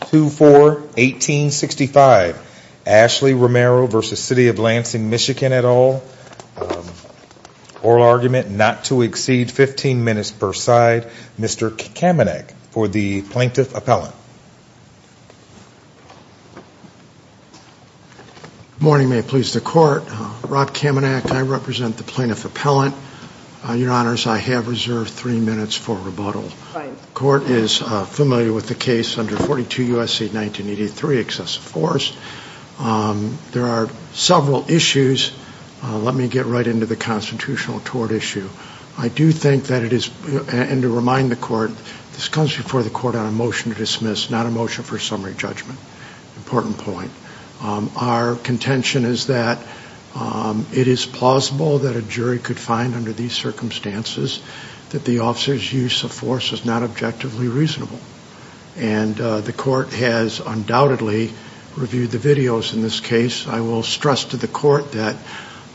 2-4-1865 Ashley Romero v. City of Lansing, Michigan et al. Oral argument not to exceed 15 minutes per side. Mr. Kamenak for the Plaintiff Appellant. Good morning, may it please the Court. Rob Kamenak, I represent the Plaintiff Appellant. Your Honors, I have reserved three minutes for rebuttal. The Court is familiar with the case under 42 U.S.C. 1983, excessive force. There are several issues. Let me get right into the constitutional tort issue. I do think that it is, and to remind the Court, this comes before the Court on a motion to dismiss. This is not a motion for summary judgment. Important point. Our contention is that it is plausible that a jury could find under these circumstances that the officer's use of force is not objectively reasonable. And the Court has undoubtedly reviewed the videos in this case. I will stress to the Court that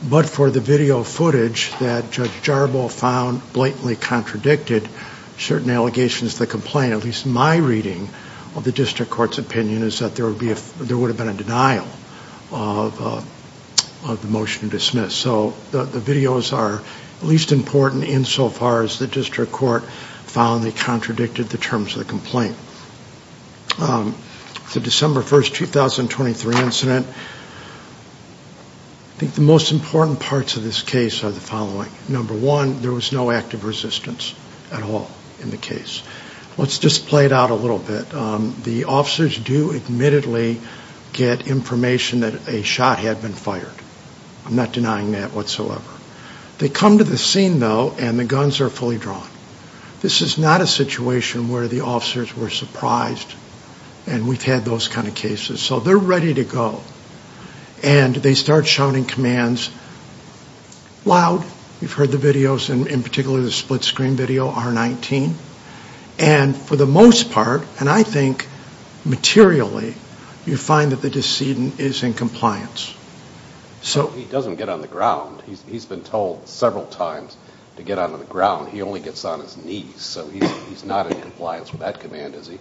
but for the video footage that Judge Jarbo found blatantly contradicted certain allegations of the complaint, at least my reading of the District Court's opinion is that there would have been a denial of the motion to dismiss. So the videos are at least important insofar as the District Court found they contradicted the terms of the complaint. The December 1st, 2023 incident, I think the most important parts of this case are the following. Number one, there was no active resistance at all in the case. Let's just play it out a little bit. The officers do admittedly get information that a shot had been fired. I'm not denying that whatsoever. They come to the scene, though, and the guns are fully drawn. This is not a situation where the officers were surprised and we've had those kind of cases. So they're ready to go. And they start shouting commands loud. You've heard the videos, and in particular the split-screen video, R-19. And for the most part, and I think materially, you find that the decedent is in compliance. He doesn't get on the ground. He's been told several times to get on the ground. He only gets on his knees. So he's not in compliance with that command, is he?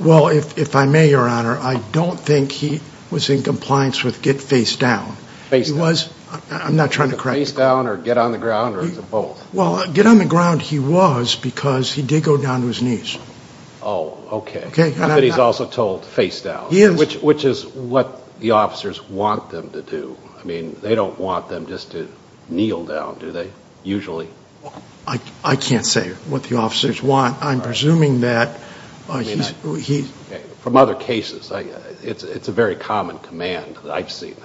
Well, if I may, Your Honor, I don't think he was in compliance with get face down. He was. I'm not trying to correct you. Face down or get on the ground, or is it both? Well, get on the ground he was because he did go down to his knees. Oh, okay. But he's also told face down, which is what the officers want them to do. I mean, they don't want them just to kneel down, do they, usually? I can't say what the officers want. I'm presuming that he's... From other cases, it's a very common command that I've seen.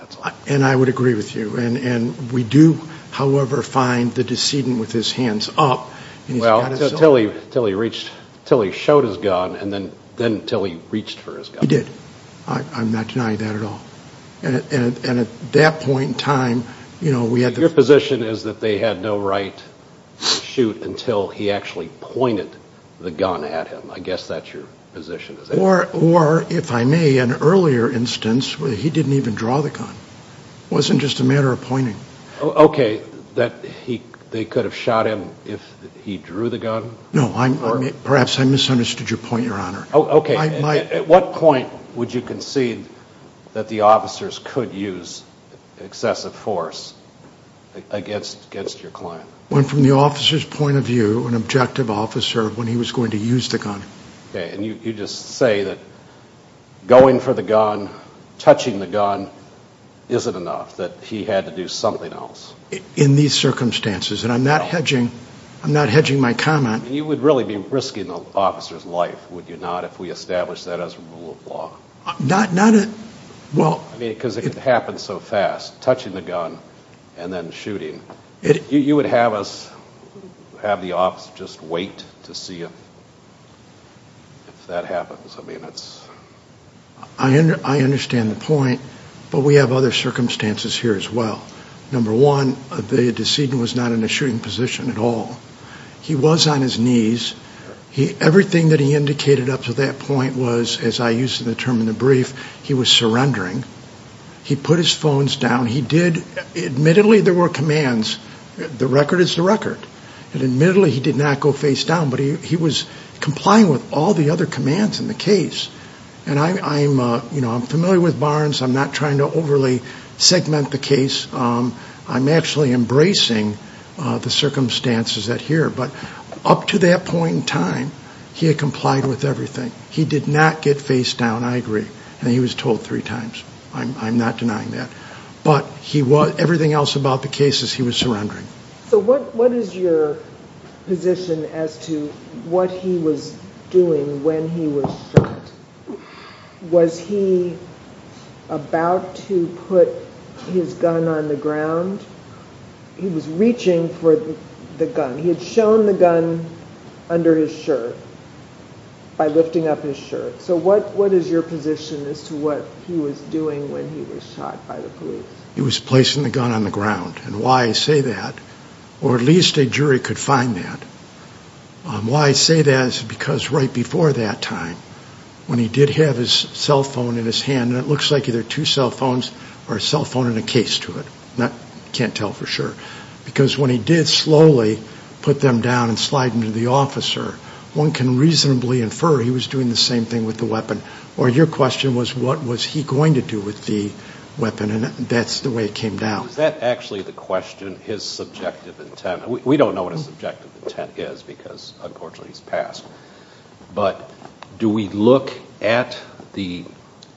And I would agree with you. And we do, however, find the decedent with his hands up. Well, until he reached, until he showed his gun, and then until he reached for his gun. He did. I'm not denying that at all. And at that point in time, you know, we had to... Your position is that they had no right to shoot until he actually pointed the gun at him. I guess that's your position. Or, if I may, in an earlier instance, he didn't even draw the gun. It wasn't just a matter of pointing. Okay, that they could have shot him if he drew the gun? No, perhaps I misunderstood your point, Your Honor. Okay, at what point would you concede that the officers could use excessive force against your client? Well, from the officer's point of view, an objective officer, when he was going to use the gun. Okay, and you just say that going for the gun, touching the gun, isn't enough, that he had to do something else. In these circumstances, and I'm not hedging my comment... You would really be risking the officer's life, would you not, if we established that as a rule of law? Not... Because it could happen so fast, touching the gun and then shooting. You would have us, have the officer just wait to see if that happens? I understand the point, but we have other circumstances here as well. Number one, the decedent was not in a shooting position at all. He was on his knees. Everything that he indicated up to that point was, as I use the term in the brief, he was surrendering. He put his phones down. He did, admittedly, there were commands, the record is the record. And admittedly, he did not go face down, but he was complying with all the other commands in the case. I'm familiar with Barnes. I'm not trying to overly segment the case. I'm actually embracing the circumstances that are here. But up to that point in time, he had complied with everything. He did not get face down, I agree, and he was told three times. I'm not denying that. But everything else about the case is he was surrendering. So what is your position as to what he was doing when he was shot? Was he about to put his gun on the ground? He was reaching for the gun. He had shown the gun under his shirt by lifting up his shirt. So what is your position as to what he was doing when he was shot by the police? He was placing the gun on the ground. And why I say that, or at least a jury could find that, why I say that is because right before that time, when he did have his cell phone in his hand, and it looks like either two cell phones or a cell phone and a case to it, I can't tell for sure, because when he did slowly put them down and slide them to the officer, one can reasonably infer he was doing the same thing with the weapon. Or your question was what was he going to do with the weapon, and that's the way it came down. Is that actually the question, his subjective intent? We don't know what his subjective intent is because, unfortunately, he's passed. But do we look at the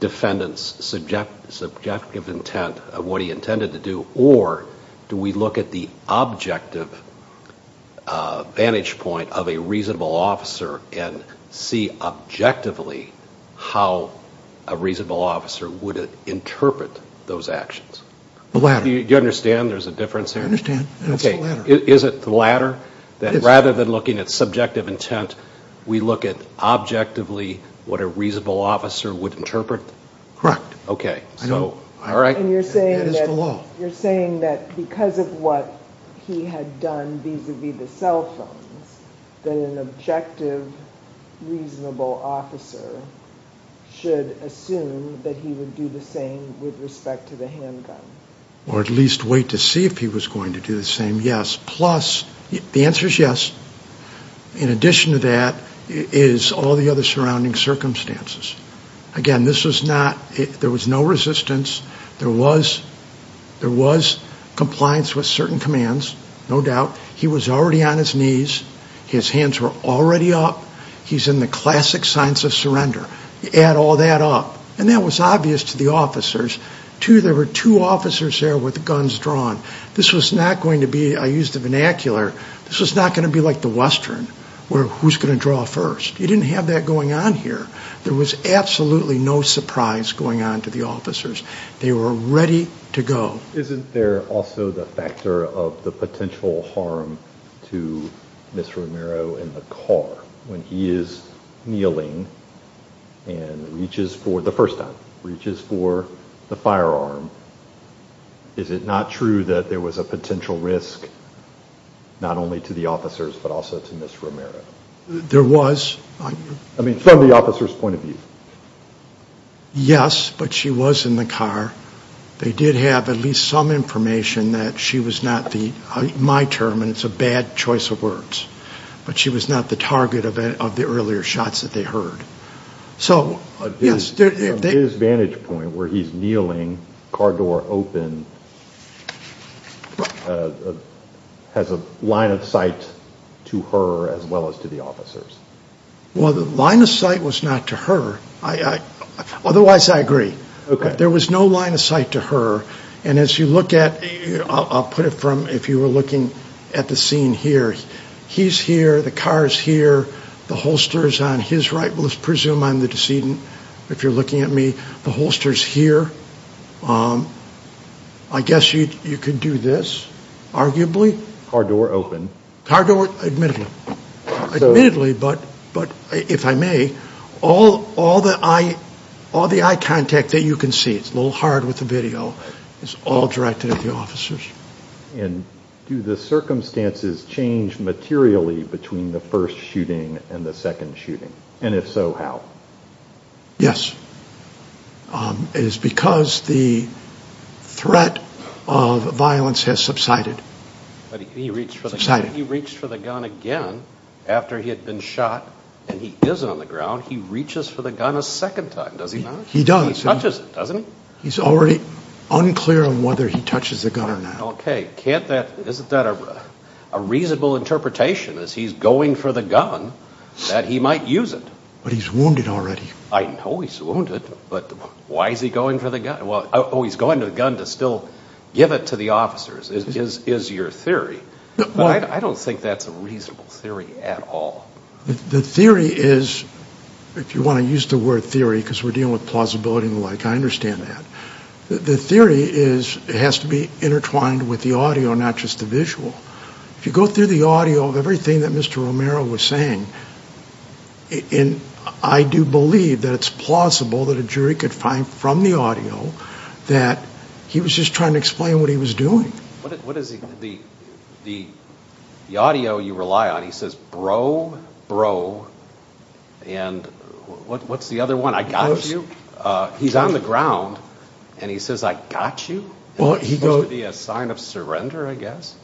defendant's subjective intent of what he intended to do, or do we look at the objective vantage point of a reasonable officer and see objectively how a reasonable officer would interpret those actions? The latter. Do you understand there's a difference there? I understand. It's the latter. Is it the latter, that rather than looking at subjective intent, we look at objectively what a reasonable officer would interpret? Correct. Okay. And you're saying that because of what he had done vis-a-vis the cell phones, that an objective, reasonable officer should assume that he would do the same with respect to the handgun? Or at least wait to see if he was going to do the same, yes. Plus, the answer is yes. In addition to that is all the other surrounding circumstances. Again, this was not, there was no resistance. There was compliance with certain commands, no doubt. He was already on his knees. His hands were already up. He's in the classic signs of surrender. Add all that up. And that was obvious to the officers. Two, there were two officers there with guns drawn. This was not going to be, I use the vernacular, this was not going to be like the Western, where who's going to draw first. You didn't have that going on here. There was absolutely no surprise going on to the officers. They were ready to go. Isn't there also the factor of the potential harm to Ms. Romero in the car? When he is kneeling and reaches for, the first time, reaches for the firearm, is it not true that there was a potential risk not only to the officers but also to Ms. Romero? There was. I mean, from the officer's point of view. Yes, but she was in the car. They did have at least some information that she was not the, my term, and it's a bad choice of words, but she was not the target of the earlier shots that they heard. So, yes. From his vantage point where he's kneeling, car door open, has a line of sight to her as well as to the officers. Well, the line of sight was not to her. Otherwise, I agree. There was no line of sight to her. And as you look at, I'll put it from if you were looking at the scene here, he's here, the car is here, the holster is on his right. Let's presume I'm the decedent, if you're looking at me. The holster is here. I guess you could do this, arguably. Car door open. Car door, admittedly. Admittedly, but if I may, all the eye contact that you can see, it's a little hard with the video, is all directed at the officers. Do the circumstances change materially between the first shooting and the second shooting? And if so, how? Yes. It is because the threat of violence has subsided. He reached for the gun again after he had been shot, and he is on the ground. He reaches for the gun a second time, does he not? He does. He touches it, doesn't he? He's already unclear on whether he touches the gun or not. Okay. Isn't that a reasonable interpretation, is he's going for the gun, that he might use it? But he's wounded already. I know he's wounded, but why is he going for the gun? Oh, he's going for the gun to still give it to the officers is your theory. But I don't think that's a reasonable theory at all. The theory is, if you want to use the word theory because we're dealing with plausibility and the like, I understand that. The theory is it has to be intertwined with the audio, not just the visual. If you go through the audio of everything that Mr. Romero was saying, I do believe that it's plausible that a jury could find from the audio that he was just trying to explain what he was doing. What is the audio you rely on? He says, bro, bro, and what's the other one? I got you? He's on the ground, and he says, I got you? It's supposed to be a sign of surrender, I guess.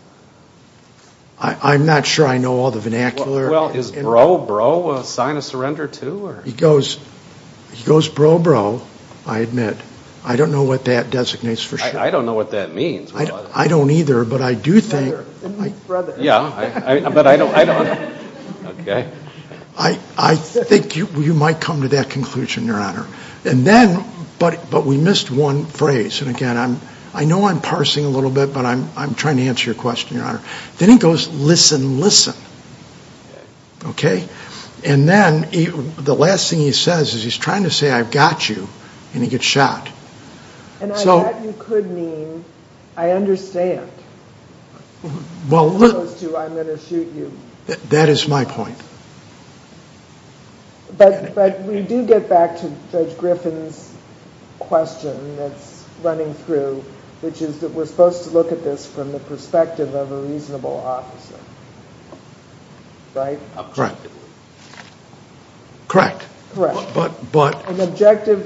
I'm not sure I know all the vernacular. Well, is bro, bro a sign of surrender, too? He goes, bro, bro, I admit, I don't know what that designates for sure. I don't know what that means. I don't either, but I do think you might come to that conclusion, Your Honor. But we missed one phrase, and again, I know I'm parsing a little bit, but I'm trying to answer your question, Your Honor. Then he goes, listen, listen, okay? And then the last thing he says is he's trying to say, I've got you, and he gets shot. And I bet you could mean, I understand. As opposed to, I'm going to shoot you. That is my point. But we do get back to Judge Griffin's question that's running through, which is that we're supposed to look at this from the perspective of a reasonable officer, right? An objective,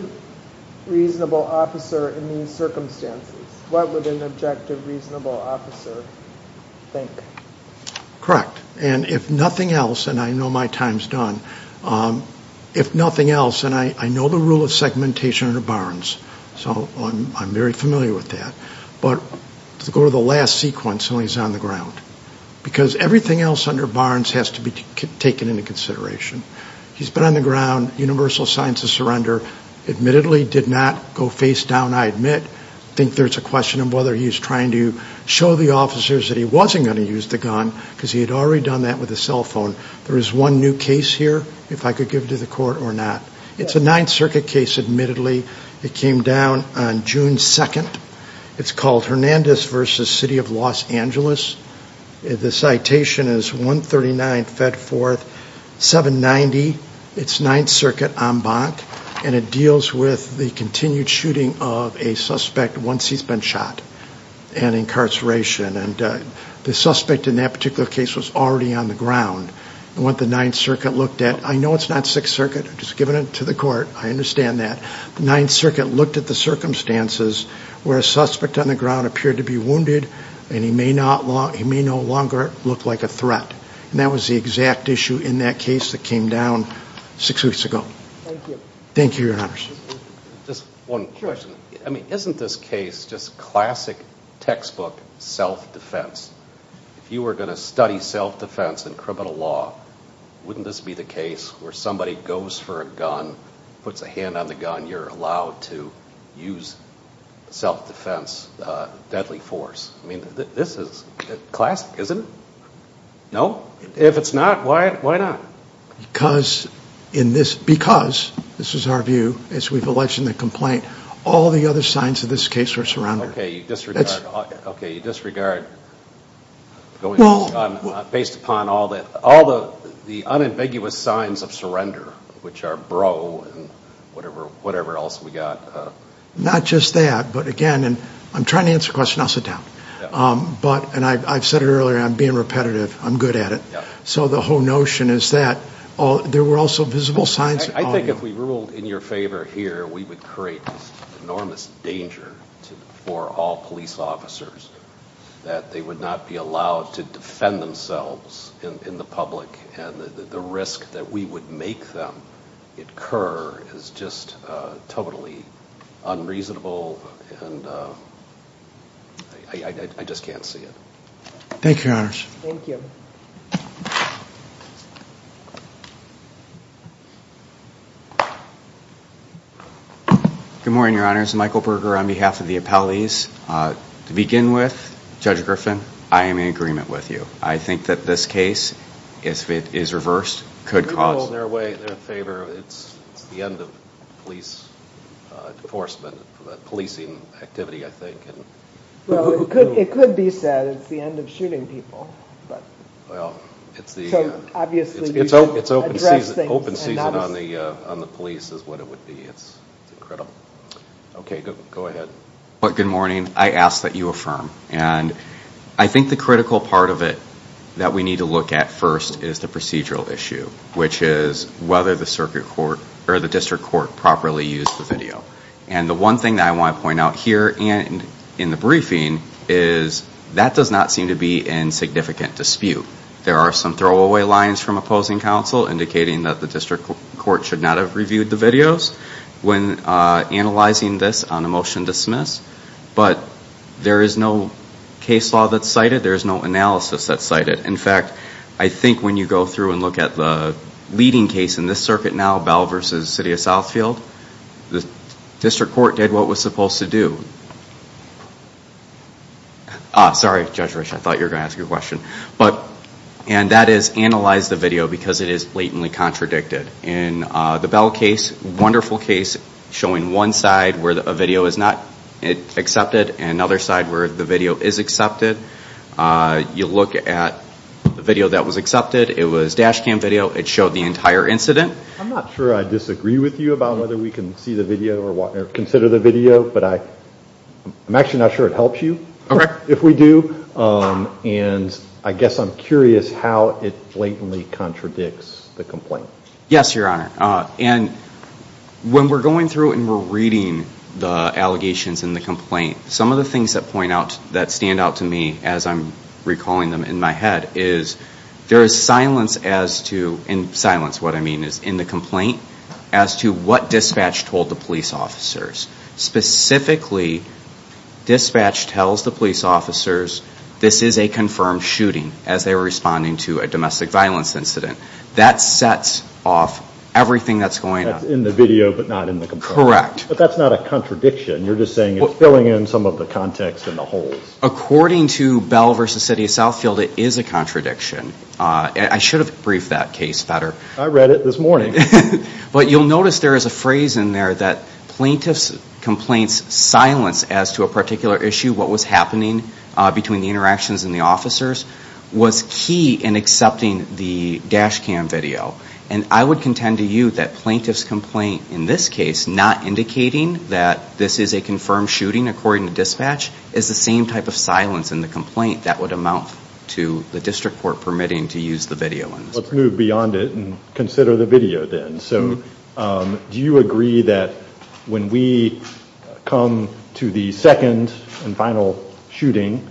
reasonable officer in these circumstances, what would an objective, reasonable officer think? Correct. And if nothing else, and I know my time's done, if nothing else, and I know the rule of segmentation under Barnes, so I'm very familiar with that, but let's go to the last sequence when he's on the ground. Because everything else under Barnes has to be taken into consideration. He's been on the ground, universal signs of surrender, admittedly did not go face down, I admit. I think there's a question of whether he's trying to show the officers that he wasn't going to use the gun, because he had already done that with a cell phone. There is one new case here, if I could give it to the Court or not. It's a Ninth Circuit case, admittedly. It came down on June 2nd. It's called Hernandez v. City of Los Angeles. The citation is 139 Fedforth 790. It's Ninth Circuit en banc, and it deals with the continued shooting of a suspect once he's been shot and incarceration. And the suspect in that particular case was already on the ground. And what the Ninth Circuit looked at, I know it's not Sixth Circuit. I'm just giving it to the Court. I understand that. The Ninth Circuit looked at the circumstances where a suspect on the ground appeared to be wounded, and he may no longer look like a threat. And that was the exact issue in that case that came down six weeks ago. Thank you. Just one question. I mean, isn't this case just classic textbook self-defense? If you were going to study self-defense in criminal law, wouldn't this be the case where somebody goes for a gun, puts a hand on the gun, you're allowed to use self-defense deadly force? I mean, this is classic, isn't it? No? If it's not, why not? Because, in this, because, this is our view, as we've alleged in the complaint, all the other signs of this case are surrounded. Okay, you disregard, based upon all the unambiguous signs of surrender, which are bro and whatever else we got. Not just that, but again, and I'm trying to answer the question. I'll sit down. But, and I've said it earlier, I'm being repetitive. I'm good at it. So the whole notion is that there were also visible signs. I think if we ruled in your favor here, we would create this enormous danger for all police officers, that they would not be allowed to defend themselves in the public, and the risk that we would make them incur is just totally unreasonable, and I just can't see it. Thank you, Your Honors. Thank you. Good morning, Your Honors. Michael Berger on behalf of the appellees. To begin with, Judge Griffin, I am in agreement with you. I think that this case, if it is reversed, could cause. We ruled in their way, in their favor. It's the end of police enforcement, policing activity, I think. Well, it could be said it's the end of shooting people. Well, it's the open season on the police is what it would be. It's incredible. Okay, go ahead. Good morning. I ask that you affirm. And I think the critical part of it that we need to look at first is the procedural issue, which is whether the district court properly used the video. And the one thing that I want to point out here and in the briefing is that does not seem to be in significant dispute. There are some throwaway lines from opposing counsel, indicating that the district court should not have reviewed the videos when analyzing this on a motion to dismiss. But there is no case law that's cited. There is no analysis that's cited. In fact, I think when you go through and look at the leading case in this circuit now, Bell v. City of Southfield, the district court did what it was supposed to do. Sorry, Judge Rich. I thought you were going to ask a question. And that is analyze the video because it is blatantly contradicted. In the Bell case, wonderful case showing one side where a video is not accepted and another side where the video is accepted. You look at the video that was accepted. It was dash cam video. It showed the entire incident. I'm not sure I disagree with you about whether we can see the video or consider the video, but I'm actually not sure it helps you if we do. And I guess I'm curious how it blatantly contradicts the complaint. Yes, Your Honor. And when we're going through and we're reading the allegations in the complaint, some of the things that point out, that stand out to me as I'm recalling them in my head is there is silence in the complaint as to what dispatch told the police officers. Specifically, dispatch tells the police officers this is a confirmed shooting as they were responding to a domestic violence incident. That sets off everything that's going on. That's in the video but not in the complaint. Correct. But that's not a contradiction. You're just saying it's filling in some of the context and the holes. According to Bell v. City of Southfield, it is a contradiction. I should have briefed that case better. I read it this morning. But you'll notice there is a phrase in there that plaintiff's complaint's silence as to a particular issue, what was happening between the interactions and the officers, was key in accepting the dash cam video. And I would contend to you that plaintiff's complaint in this case, not indicating that this is a confirmed shooting according to dispatch, is the same type of silence in the complaint that would amount to the permitting to use the video. Let's move beyond it and consider the video then. Do you agree that when we come to the second and final shooting,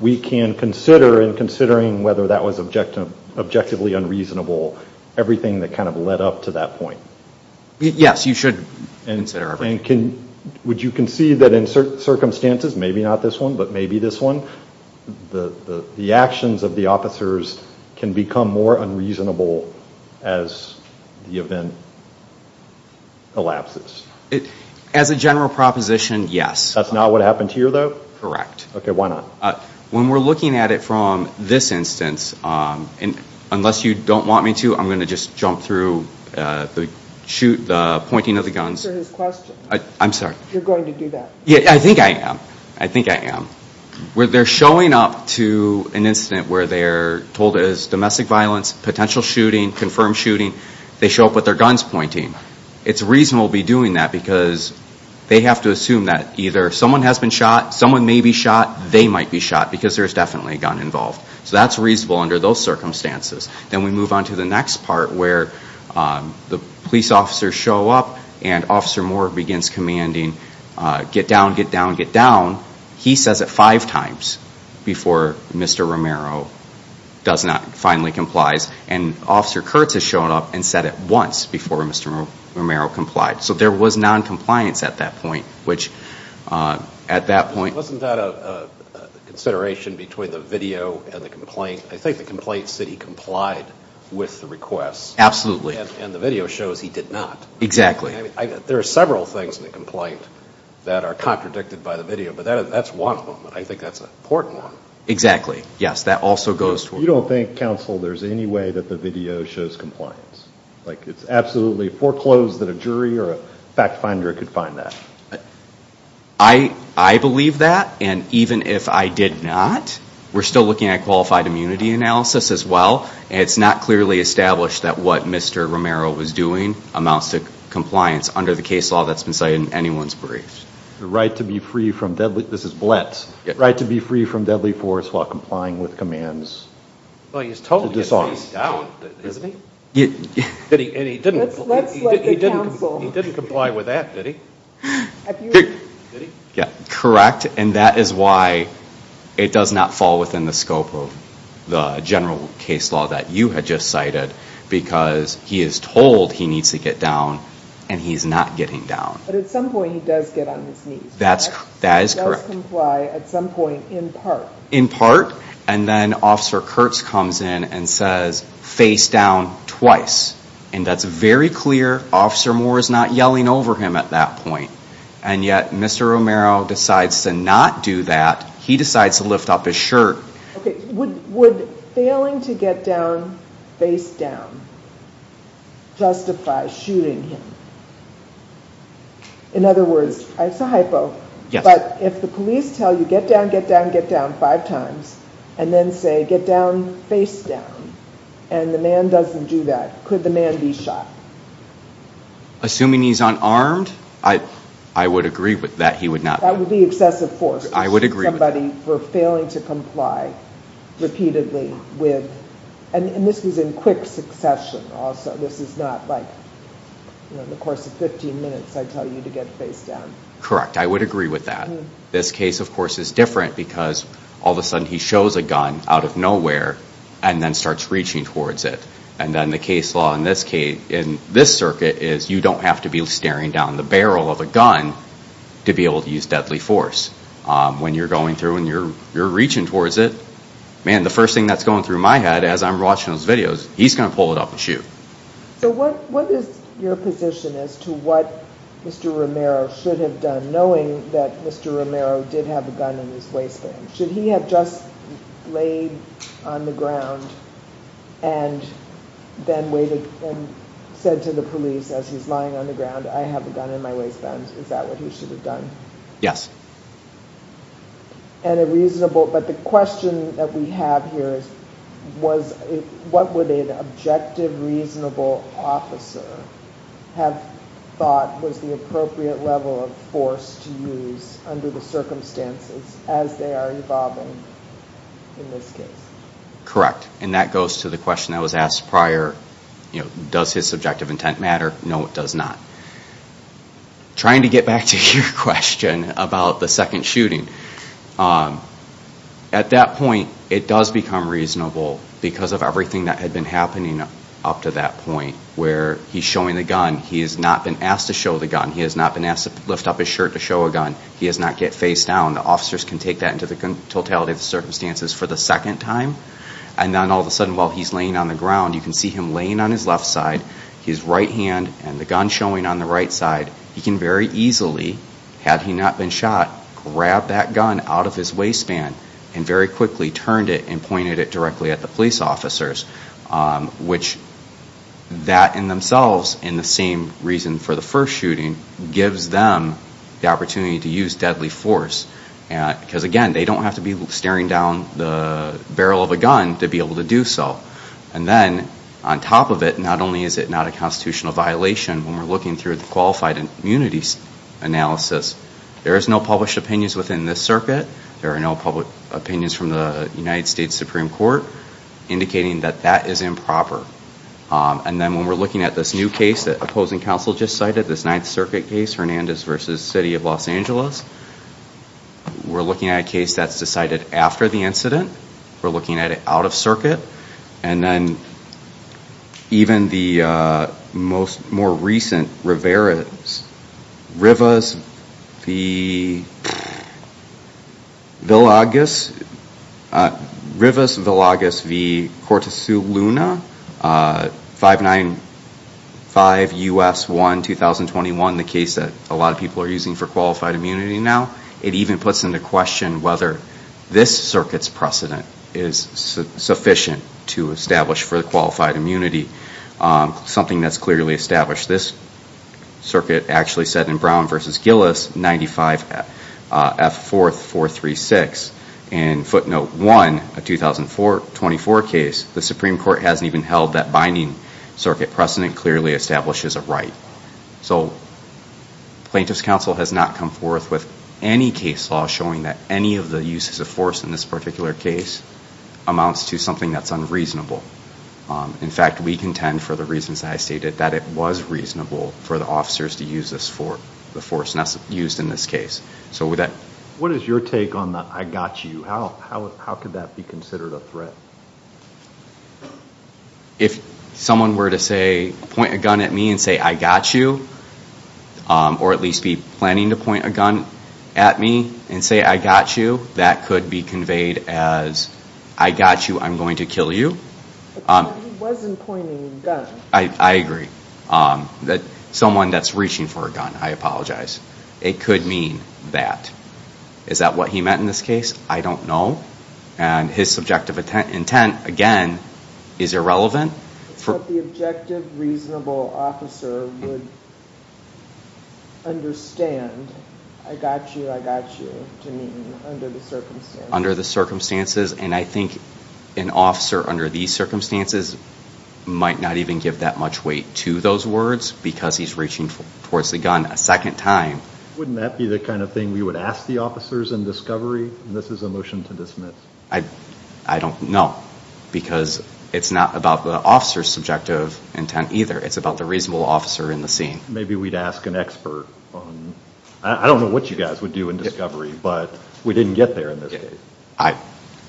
we can consider in considering whether that was objectively unreasonable everything that kind of led up to that point? Yes, you should consider everything. Would you concede that in certain circumstances, maybe not this one, but maybe this one, the actions of the officers can become more unreasonable as the event elapses? As a general proposition, yes. That's not what happened here, though? Correct. Okay, why not? When we're looking at it from this instance, unless you don't want me to, I'm going to just jump through the pointing of the guns. Answer his question. I'm sorry. You're going to do that. I think I am. I think I am. They're showing up to an incident where they're told it is domestic violence, potential shooting, confirmed shooting. They show up with their guns pointing. It's reasonable to be doing that because they have to assume that either someone has been shot, someone may be shot, they might be shot because there's definitely a gun involved. So that's reasonable under those circumstances. Then we move on to the next part where the police officers show up and Officer Moore begins commanding, get down, get down, get down. He says it five times before Mr. Romero finally complies. And Officer Kurtz has shown up and said it once before Mr. Romero complied. So there was noncompliance at that point. Wasn't that a consideration between the video and the complaint? I think the complaint said he complied with the request. Absolutely. And the video shows he did not. Exactly. There are several things in the complaint that are contradicted by the video, but that's one of them. I think that's an important one. Exactly. Yes, that also goes to it. You don't think, counsel, there's any way that the video shows compliance? Like it's absolutely foreclosed that a jury or a fact finder could find that? I believe that, and even if I did not, we're still looking at qualified immunity analysis as well. It's not clearly established that what Mr. Romero was doing amounts to compliance under the case law that's been cited in anyone's briefs. The right to be free from deadly force while complying with commands. Well, he's told to get his face down, isn't he? And he didn't comply with that, did he? Correct. And that is why it does not fall within the scope of the general case law that you had just cited, because he is told he needs to get down, and he's not getting down. But at some point he does get on his knees, correct? That is correct. He does comply at some point in part. In part. And then Officer Kurtz comes in and says, face down twice. And that's very clear. Officer Moore is not yelling over him at that point. And yet Mr. Romero decides to not do that. He decides to lift up his shirt. Would failing to get down face down justify shooting him? In other words, it's a hypo, but if the police tell you get down, get down, get down five times, and then say get down face down, and the man doesn't do that, could the man be shot? Assuming he's unarmed, I would agree that he would not be. That would be excessive force. I would agree with that. Shooting somebody for failing to comply repeatedly with, and this was in quick succession also. This is not like in the course of 15 minutes I tell you to get face down. Correct. I would agree with that. This case, of course, is different because all of a sudden he shows a gun out of nowhere and then starts reaching towards it. And then the case law in this circuit is you don't have to be staring down the barrel of a gun to be able to use deadly force. When you're going through and you're reaching towards it, man, the first thing that's going through my head as I'm watching those videos, he's going to pull it up and shoot. So what is your position as to what Mr. Romero should have done, knowing that Mr. Romero did have a gun in his waistband? Should he have just laid on the ground and then waited and said to the police as he's lying on the ground, I have a gun in my waistband, is that what he should have done? But the question that we have here is what would an objective, reasonable officer have thought was the appropriate level of force to use under the circumstances as they are evolving in this case? Correct, and that goes to the question that was asked prior, does his subjective intent matter? No, it does not. Trying to get back to your question about the second shooting, at that point it does become reasonable because of everything that had been happening up to that point where he's showing the gun, he has not been asked to show the gun, he has not been asked to lift up his shirt to show a gun, he has not get face down. The officers can take that into the totality of the circumstances for the second time and then all of a sudden while he's laying on the ground, you can see him laying on his left side, his right hand and the gun showing on the right side. He can very easily, had he not been shot, grab that gun out of his waistband and very quickly turned it and pointed it directly at the police officers, which that in themselves and the same reason for the first shooting gives them the opportunity to use deadly force. Because again, they don't have to be staring down the barrel of a gun to be able to do so. And then on top of it, not only is it not a constitutional violation, when we're looking through the qualified immunity analysis, there is no published opinions within this circuit, there are no public opinions from the United States Supreme Court indicating that that is improper. And then when we're looking at this new case that opposing counsel just cited, this Ninth Circuit case, Hernandez v. City of Los Angeles, we're looking at a case that's decided after the incident, we're looking at it out of circuit, and then even the more recent Rivera's, Rivas Villagas v. Cortes Luna, 595 U.S. 1, 2021, the case that a lot of people are using for qualified immunity now, it even puts into question whether this circuit's precedent is sufficient to establish for the qualified immunity, something that's clearly established. This circuit actually said in Brown v. Gillis, 95 F. 4th 436, and footnote one, a 2004 case, the Supreme Court hasn't even held that binding circuit precedent clearly establishes a right. So plaintiff's counsel has not come forth with any case law showing that any of the uses of force in this particular case amounts to something that's unreasonable. In fact, we contend, for the reasons that I stated, that it was reasonable for the officers to use the force used in this case. What is your take on the, I got you? How could that be considered a threat? If someone were to point a gun at me and say, I got you, or at least be planning to point a gun at me and say, I got you, that could be conveyed as, I got you, I'm going to kill you. He wasn't pointing a gun. I agree. Someone that's reaching for a gun, I apologize. It could mean that. Is that what he meant in this case? I don't know. And his subjective intent, again, is irrelevant. But the objective, reasonable officer would understand, I got you, I got you, to mean under the circumstances. Under the circumstances. And I think an officer under these circumstances might not even give that much weight to those words because he's reaching towards the gun a second time. Wouldn't that be the kind of thing we would ask the officers in discovery? This is a motion to dismiss. I don't know. Because it's not about the officer's subjective intent either. It's about the reasonable officer in the scene. Maybe we'd ask an expert. I don't know what you guys would do in discovery, but we didn't get there in this case.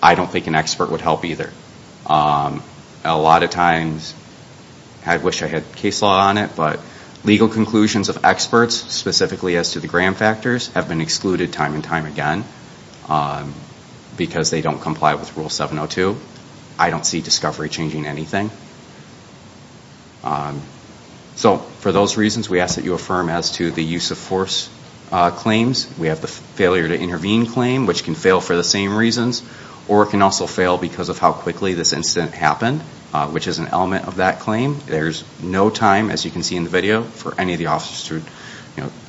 I don't think an expert would help either. A lot of times, I wish I had case law on it, but legal conclusions of experts, specifically as to the gram factors, have been excluded time and time again because they don't comply with Rule 702. I don't see discovery changing anything. So, for those reasons, we ask that you affirm as to the use of force claims. We have the failure to intervene claim, which can fail for the same reasons, or it can also fail because of how quickly this incident happened, which is an element of that claim. There's no time, as you can see in the video, for any of the officers to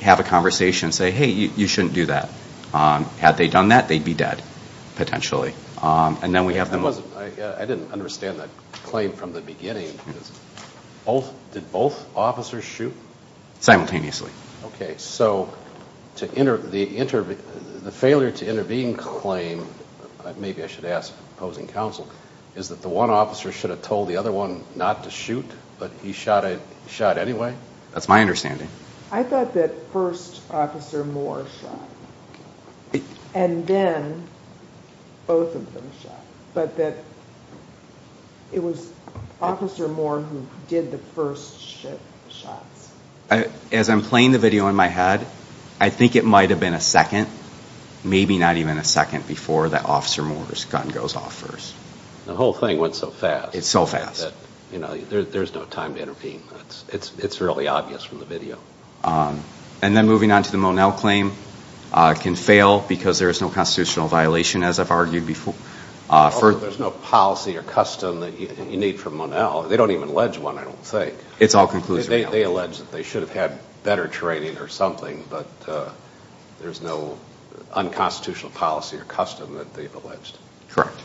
have a conversation and say, hey, you shouldn't do that. Had they done that, they'd be dead, potentially. I didn't understand that claim from the beginning. Did both officers shoot? Simultaneously. Okay, so the failure to intervene claim, maybe I should ask the opposing counsel, is that the one officer should have told the other one not to shoot, but he shot anyway? That's my understanding. I thought that first Officer Moore shot, and then both of them shot, but that it was Officer Moore who did the first shots. As I'm playing the video in my head, I think it might have been a second, maybe not even a second, before that Officer Moore's gun goes off first. The whole thing went so fast. It's so fast. There's no time to intervene. It's really obvious from the video. And then moving on to the Monell claim, it can fail because there is no constitutional violation, as I've argued before. There's no policy or custom that you need from Monell. They don't even allege one, I don't think. It's all conclusive. They allege that they should have had better training or something, but there's no unconstitutional policy or custom that they've alleged. Correct.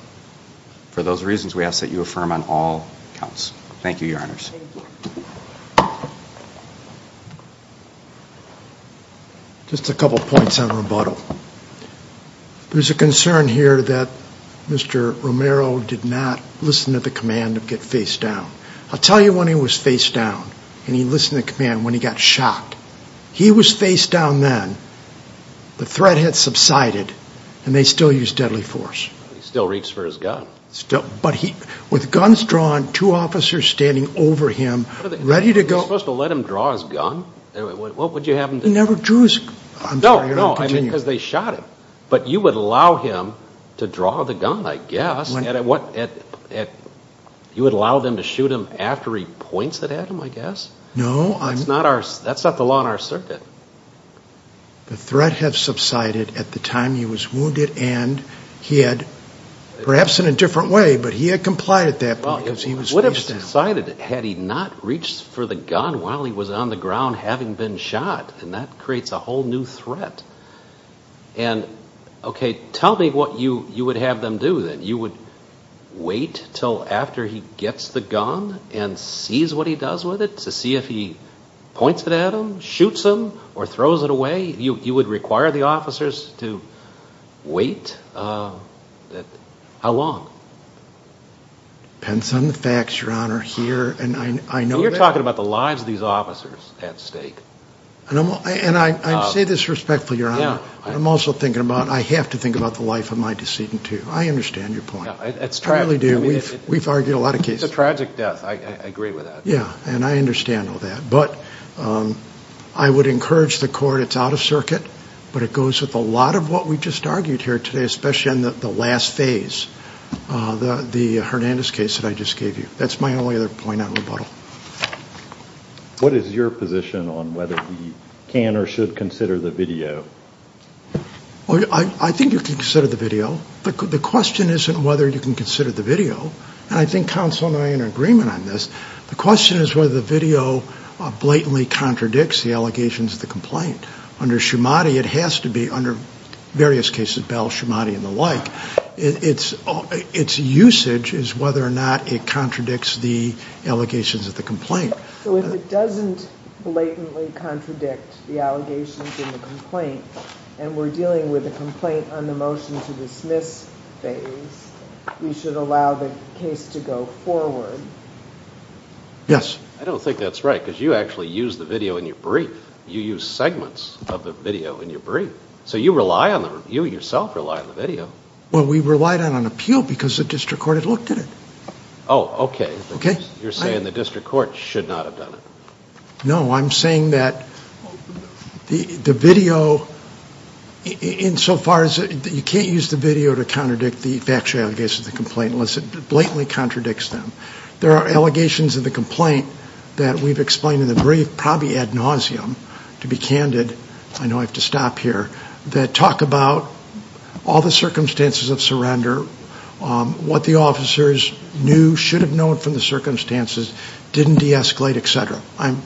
For those reasons, we ask that you affirm on all counts. Thank you, Your Honors. Thank you. Just a couple points on rebuttal. There's a concern here that Mr. Romero did not listen to the command to get face down. I'll tell you when he was face down, and he listened to the command when he got shot. He was face down then. The threat had subsided, and they still used deadly force. He still reached for his gun. But with guns drawn, two officers standing over him, ready to go. You're supposed to let him draw his gun? What would you have him do? He never drew his gun. No, because they shot him. But you would allow him to draw the gun, I guess. You would allow them to shoot him after he points it at him, I guess? No. That's not the law in our circuit. The threat had subsided at the time he was wounded, and he had, perhaps in a different way, but he had complied at that point because he was face down. Well, it would have subsided had he not reached for the gun while he was on the ground having been shot, and that creates a whole new threat. Okay, tell me what you would have them do then. You would wait until after he gets the gun and sees what he does with it to see if he points it at him, shoots him, or throws it away? You would require the officers to wait? How long? Depends on the facts, Your Honor. You're talking about the lives of these officers at stake. And I say this respectfully, Your Honor, but I'm also thinking about I have to think about the life of my decedent too. I understand your point. I really do. We've argued a lot of cases. It's a tragic death. I agree with that. Yeah, and I understand all that. But I would encourage the court. It's out of circuit, but it goes with a lot of what we just argued here today, especially in the last phase, the Hernandez case that I just gave you. That's my only other point on rebuttal. What is your position on whether he can or should consider the video? I think you can consider the video. The question isn't whether you can consider the video, and I think counsel and I are in agreement on this. The question is whether the video blatantly contradicts the allegations of the complaint. Under Shumate, it has to be. Under various cases, Bell, Shumate, and the like, its usage is whether or not it contradicts the allegations of the complaint. So if it doesn't blatantly contradict the allegations in the complaint and we're dealing with a complaint on the motion to dismiss phase, we should allow the case to go forward? Yes. I don't think that's right because you actually use the video in your brief. You use segments of the video in your brief. So you rely on the review. You yourself rely on the video. Well, we relied on an appeal because the district court had looked at it. Oh, okay. Okay. You're saying the district court should not have done it. No. I'm saying that the video, insofar as you can't use the video to contradict the factual allegations of the complaint unless it blatantly contradicts them. There are allegations of the complaint that we've explained in the brief, probably ad nauseam. To be candid, I know I have to stop here, that talk about all the circumstances of surrender, what the officers knew, should have known from the circumstances, didn't de-escalate, et cetera. I'm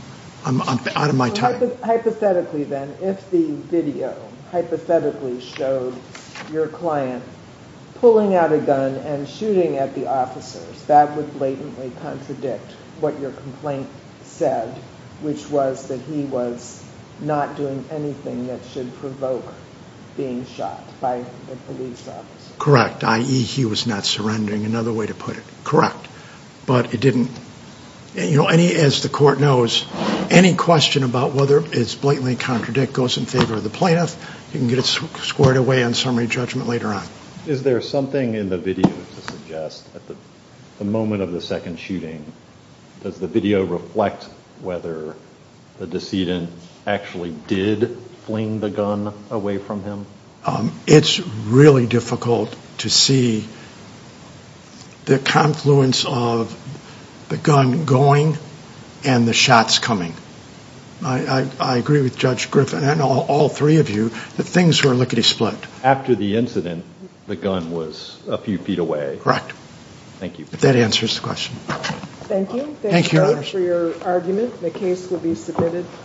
out of my time. Hypothetically then, if the video hypothetically showed your client pulling out a gun and shooting at the officers, that would blatantly contradict what your complaint said, which was that he was not doing anything that should provoke being shot by a police officer. I.e., he was not surrendering. Another way to put it. But it didn't. As the court knows, any question about whether it's blatantly contradict goes in favor of the plaintiff. You can get it squared away on summary judgment later on. Is there something in the video to suggest at the moment of the second shooting, does the video reflect whether the decedent actually did fling the gun away from him? It's really difficult to see the confluence of the gun going and the shots coming. I agree with Judge Griffin and all three of you that things were lickety-split. After the incident, the gun was a few feet away. Correct. Thank you. That answers the question. Thank you. Thank you for your argument. The case will be submitted.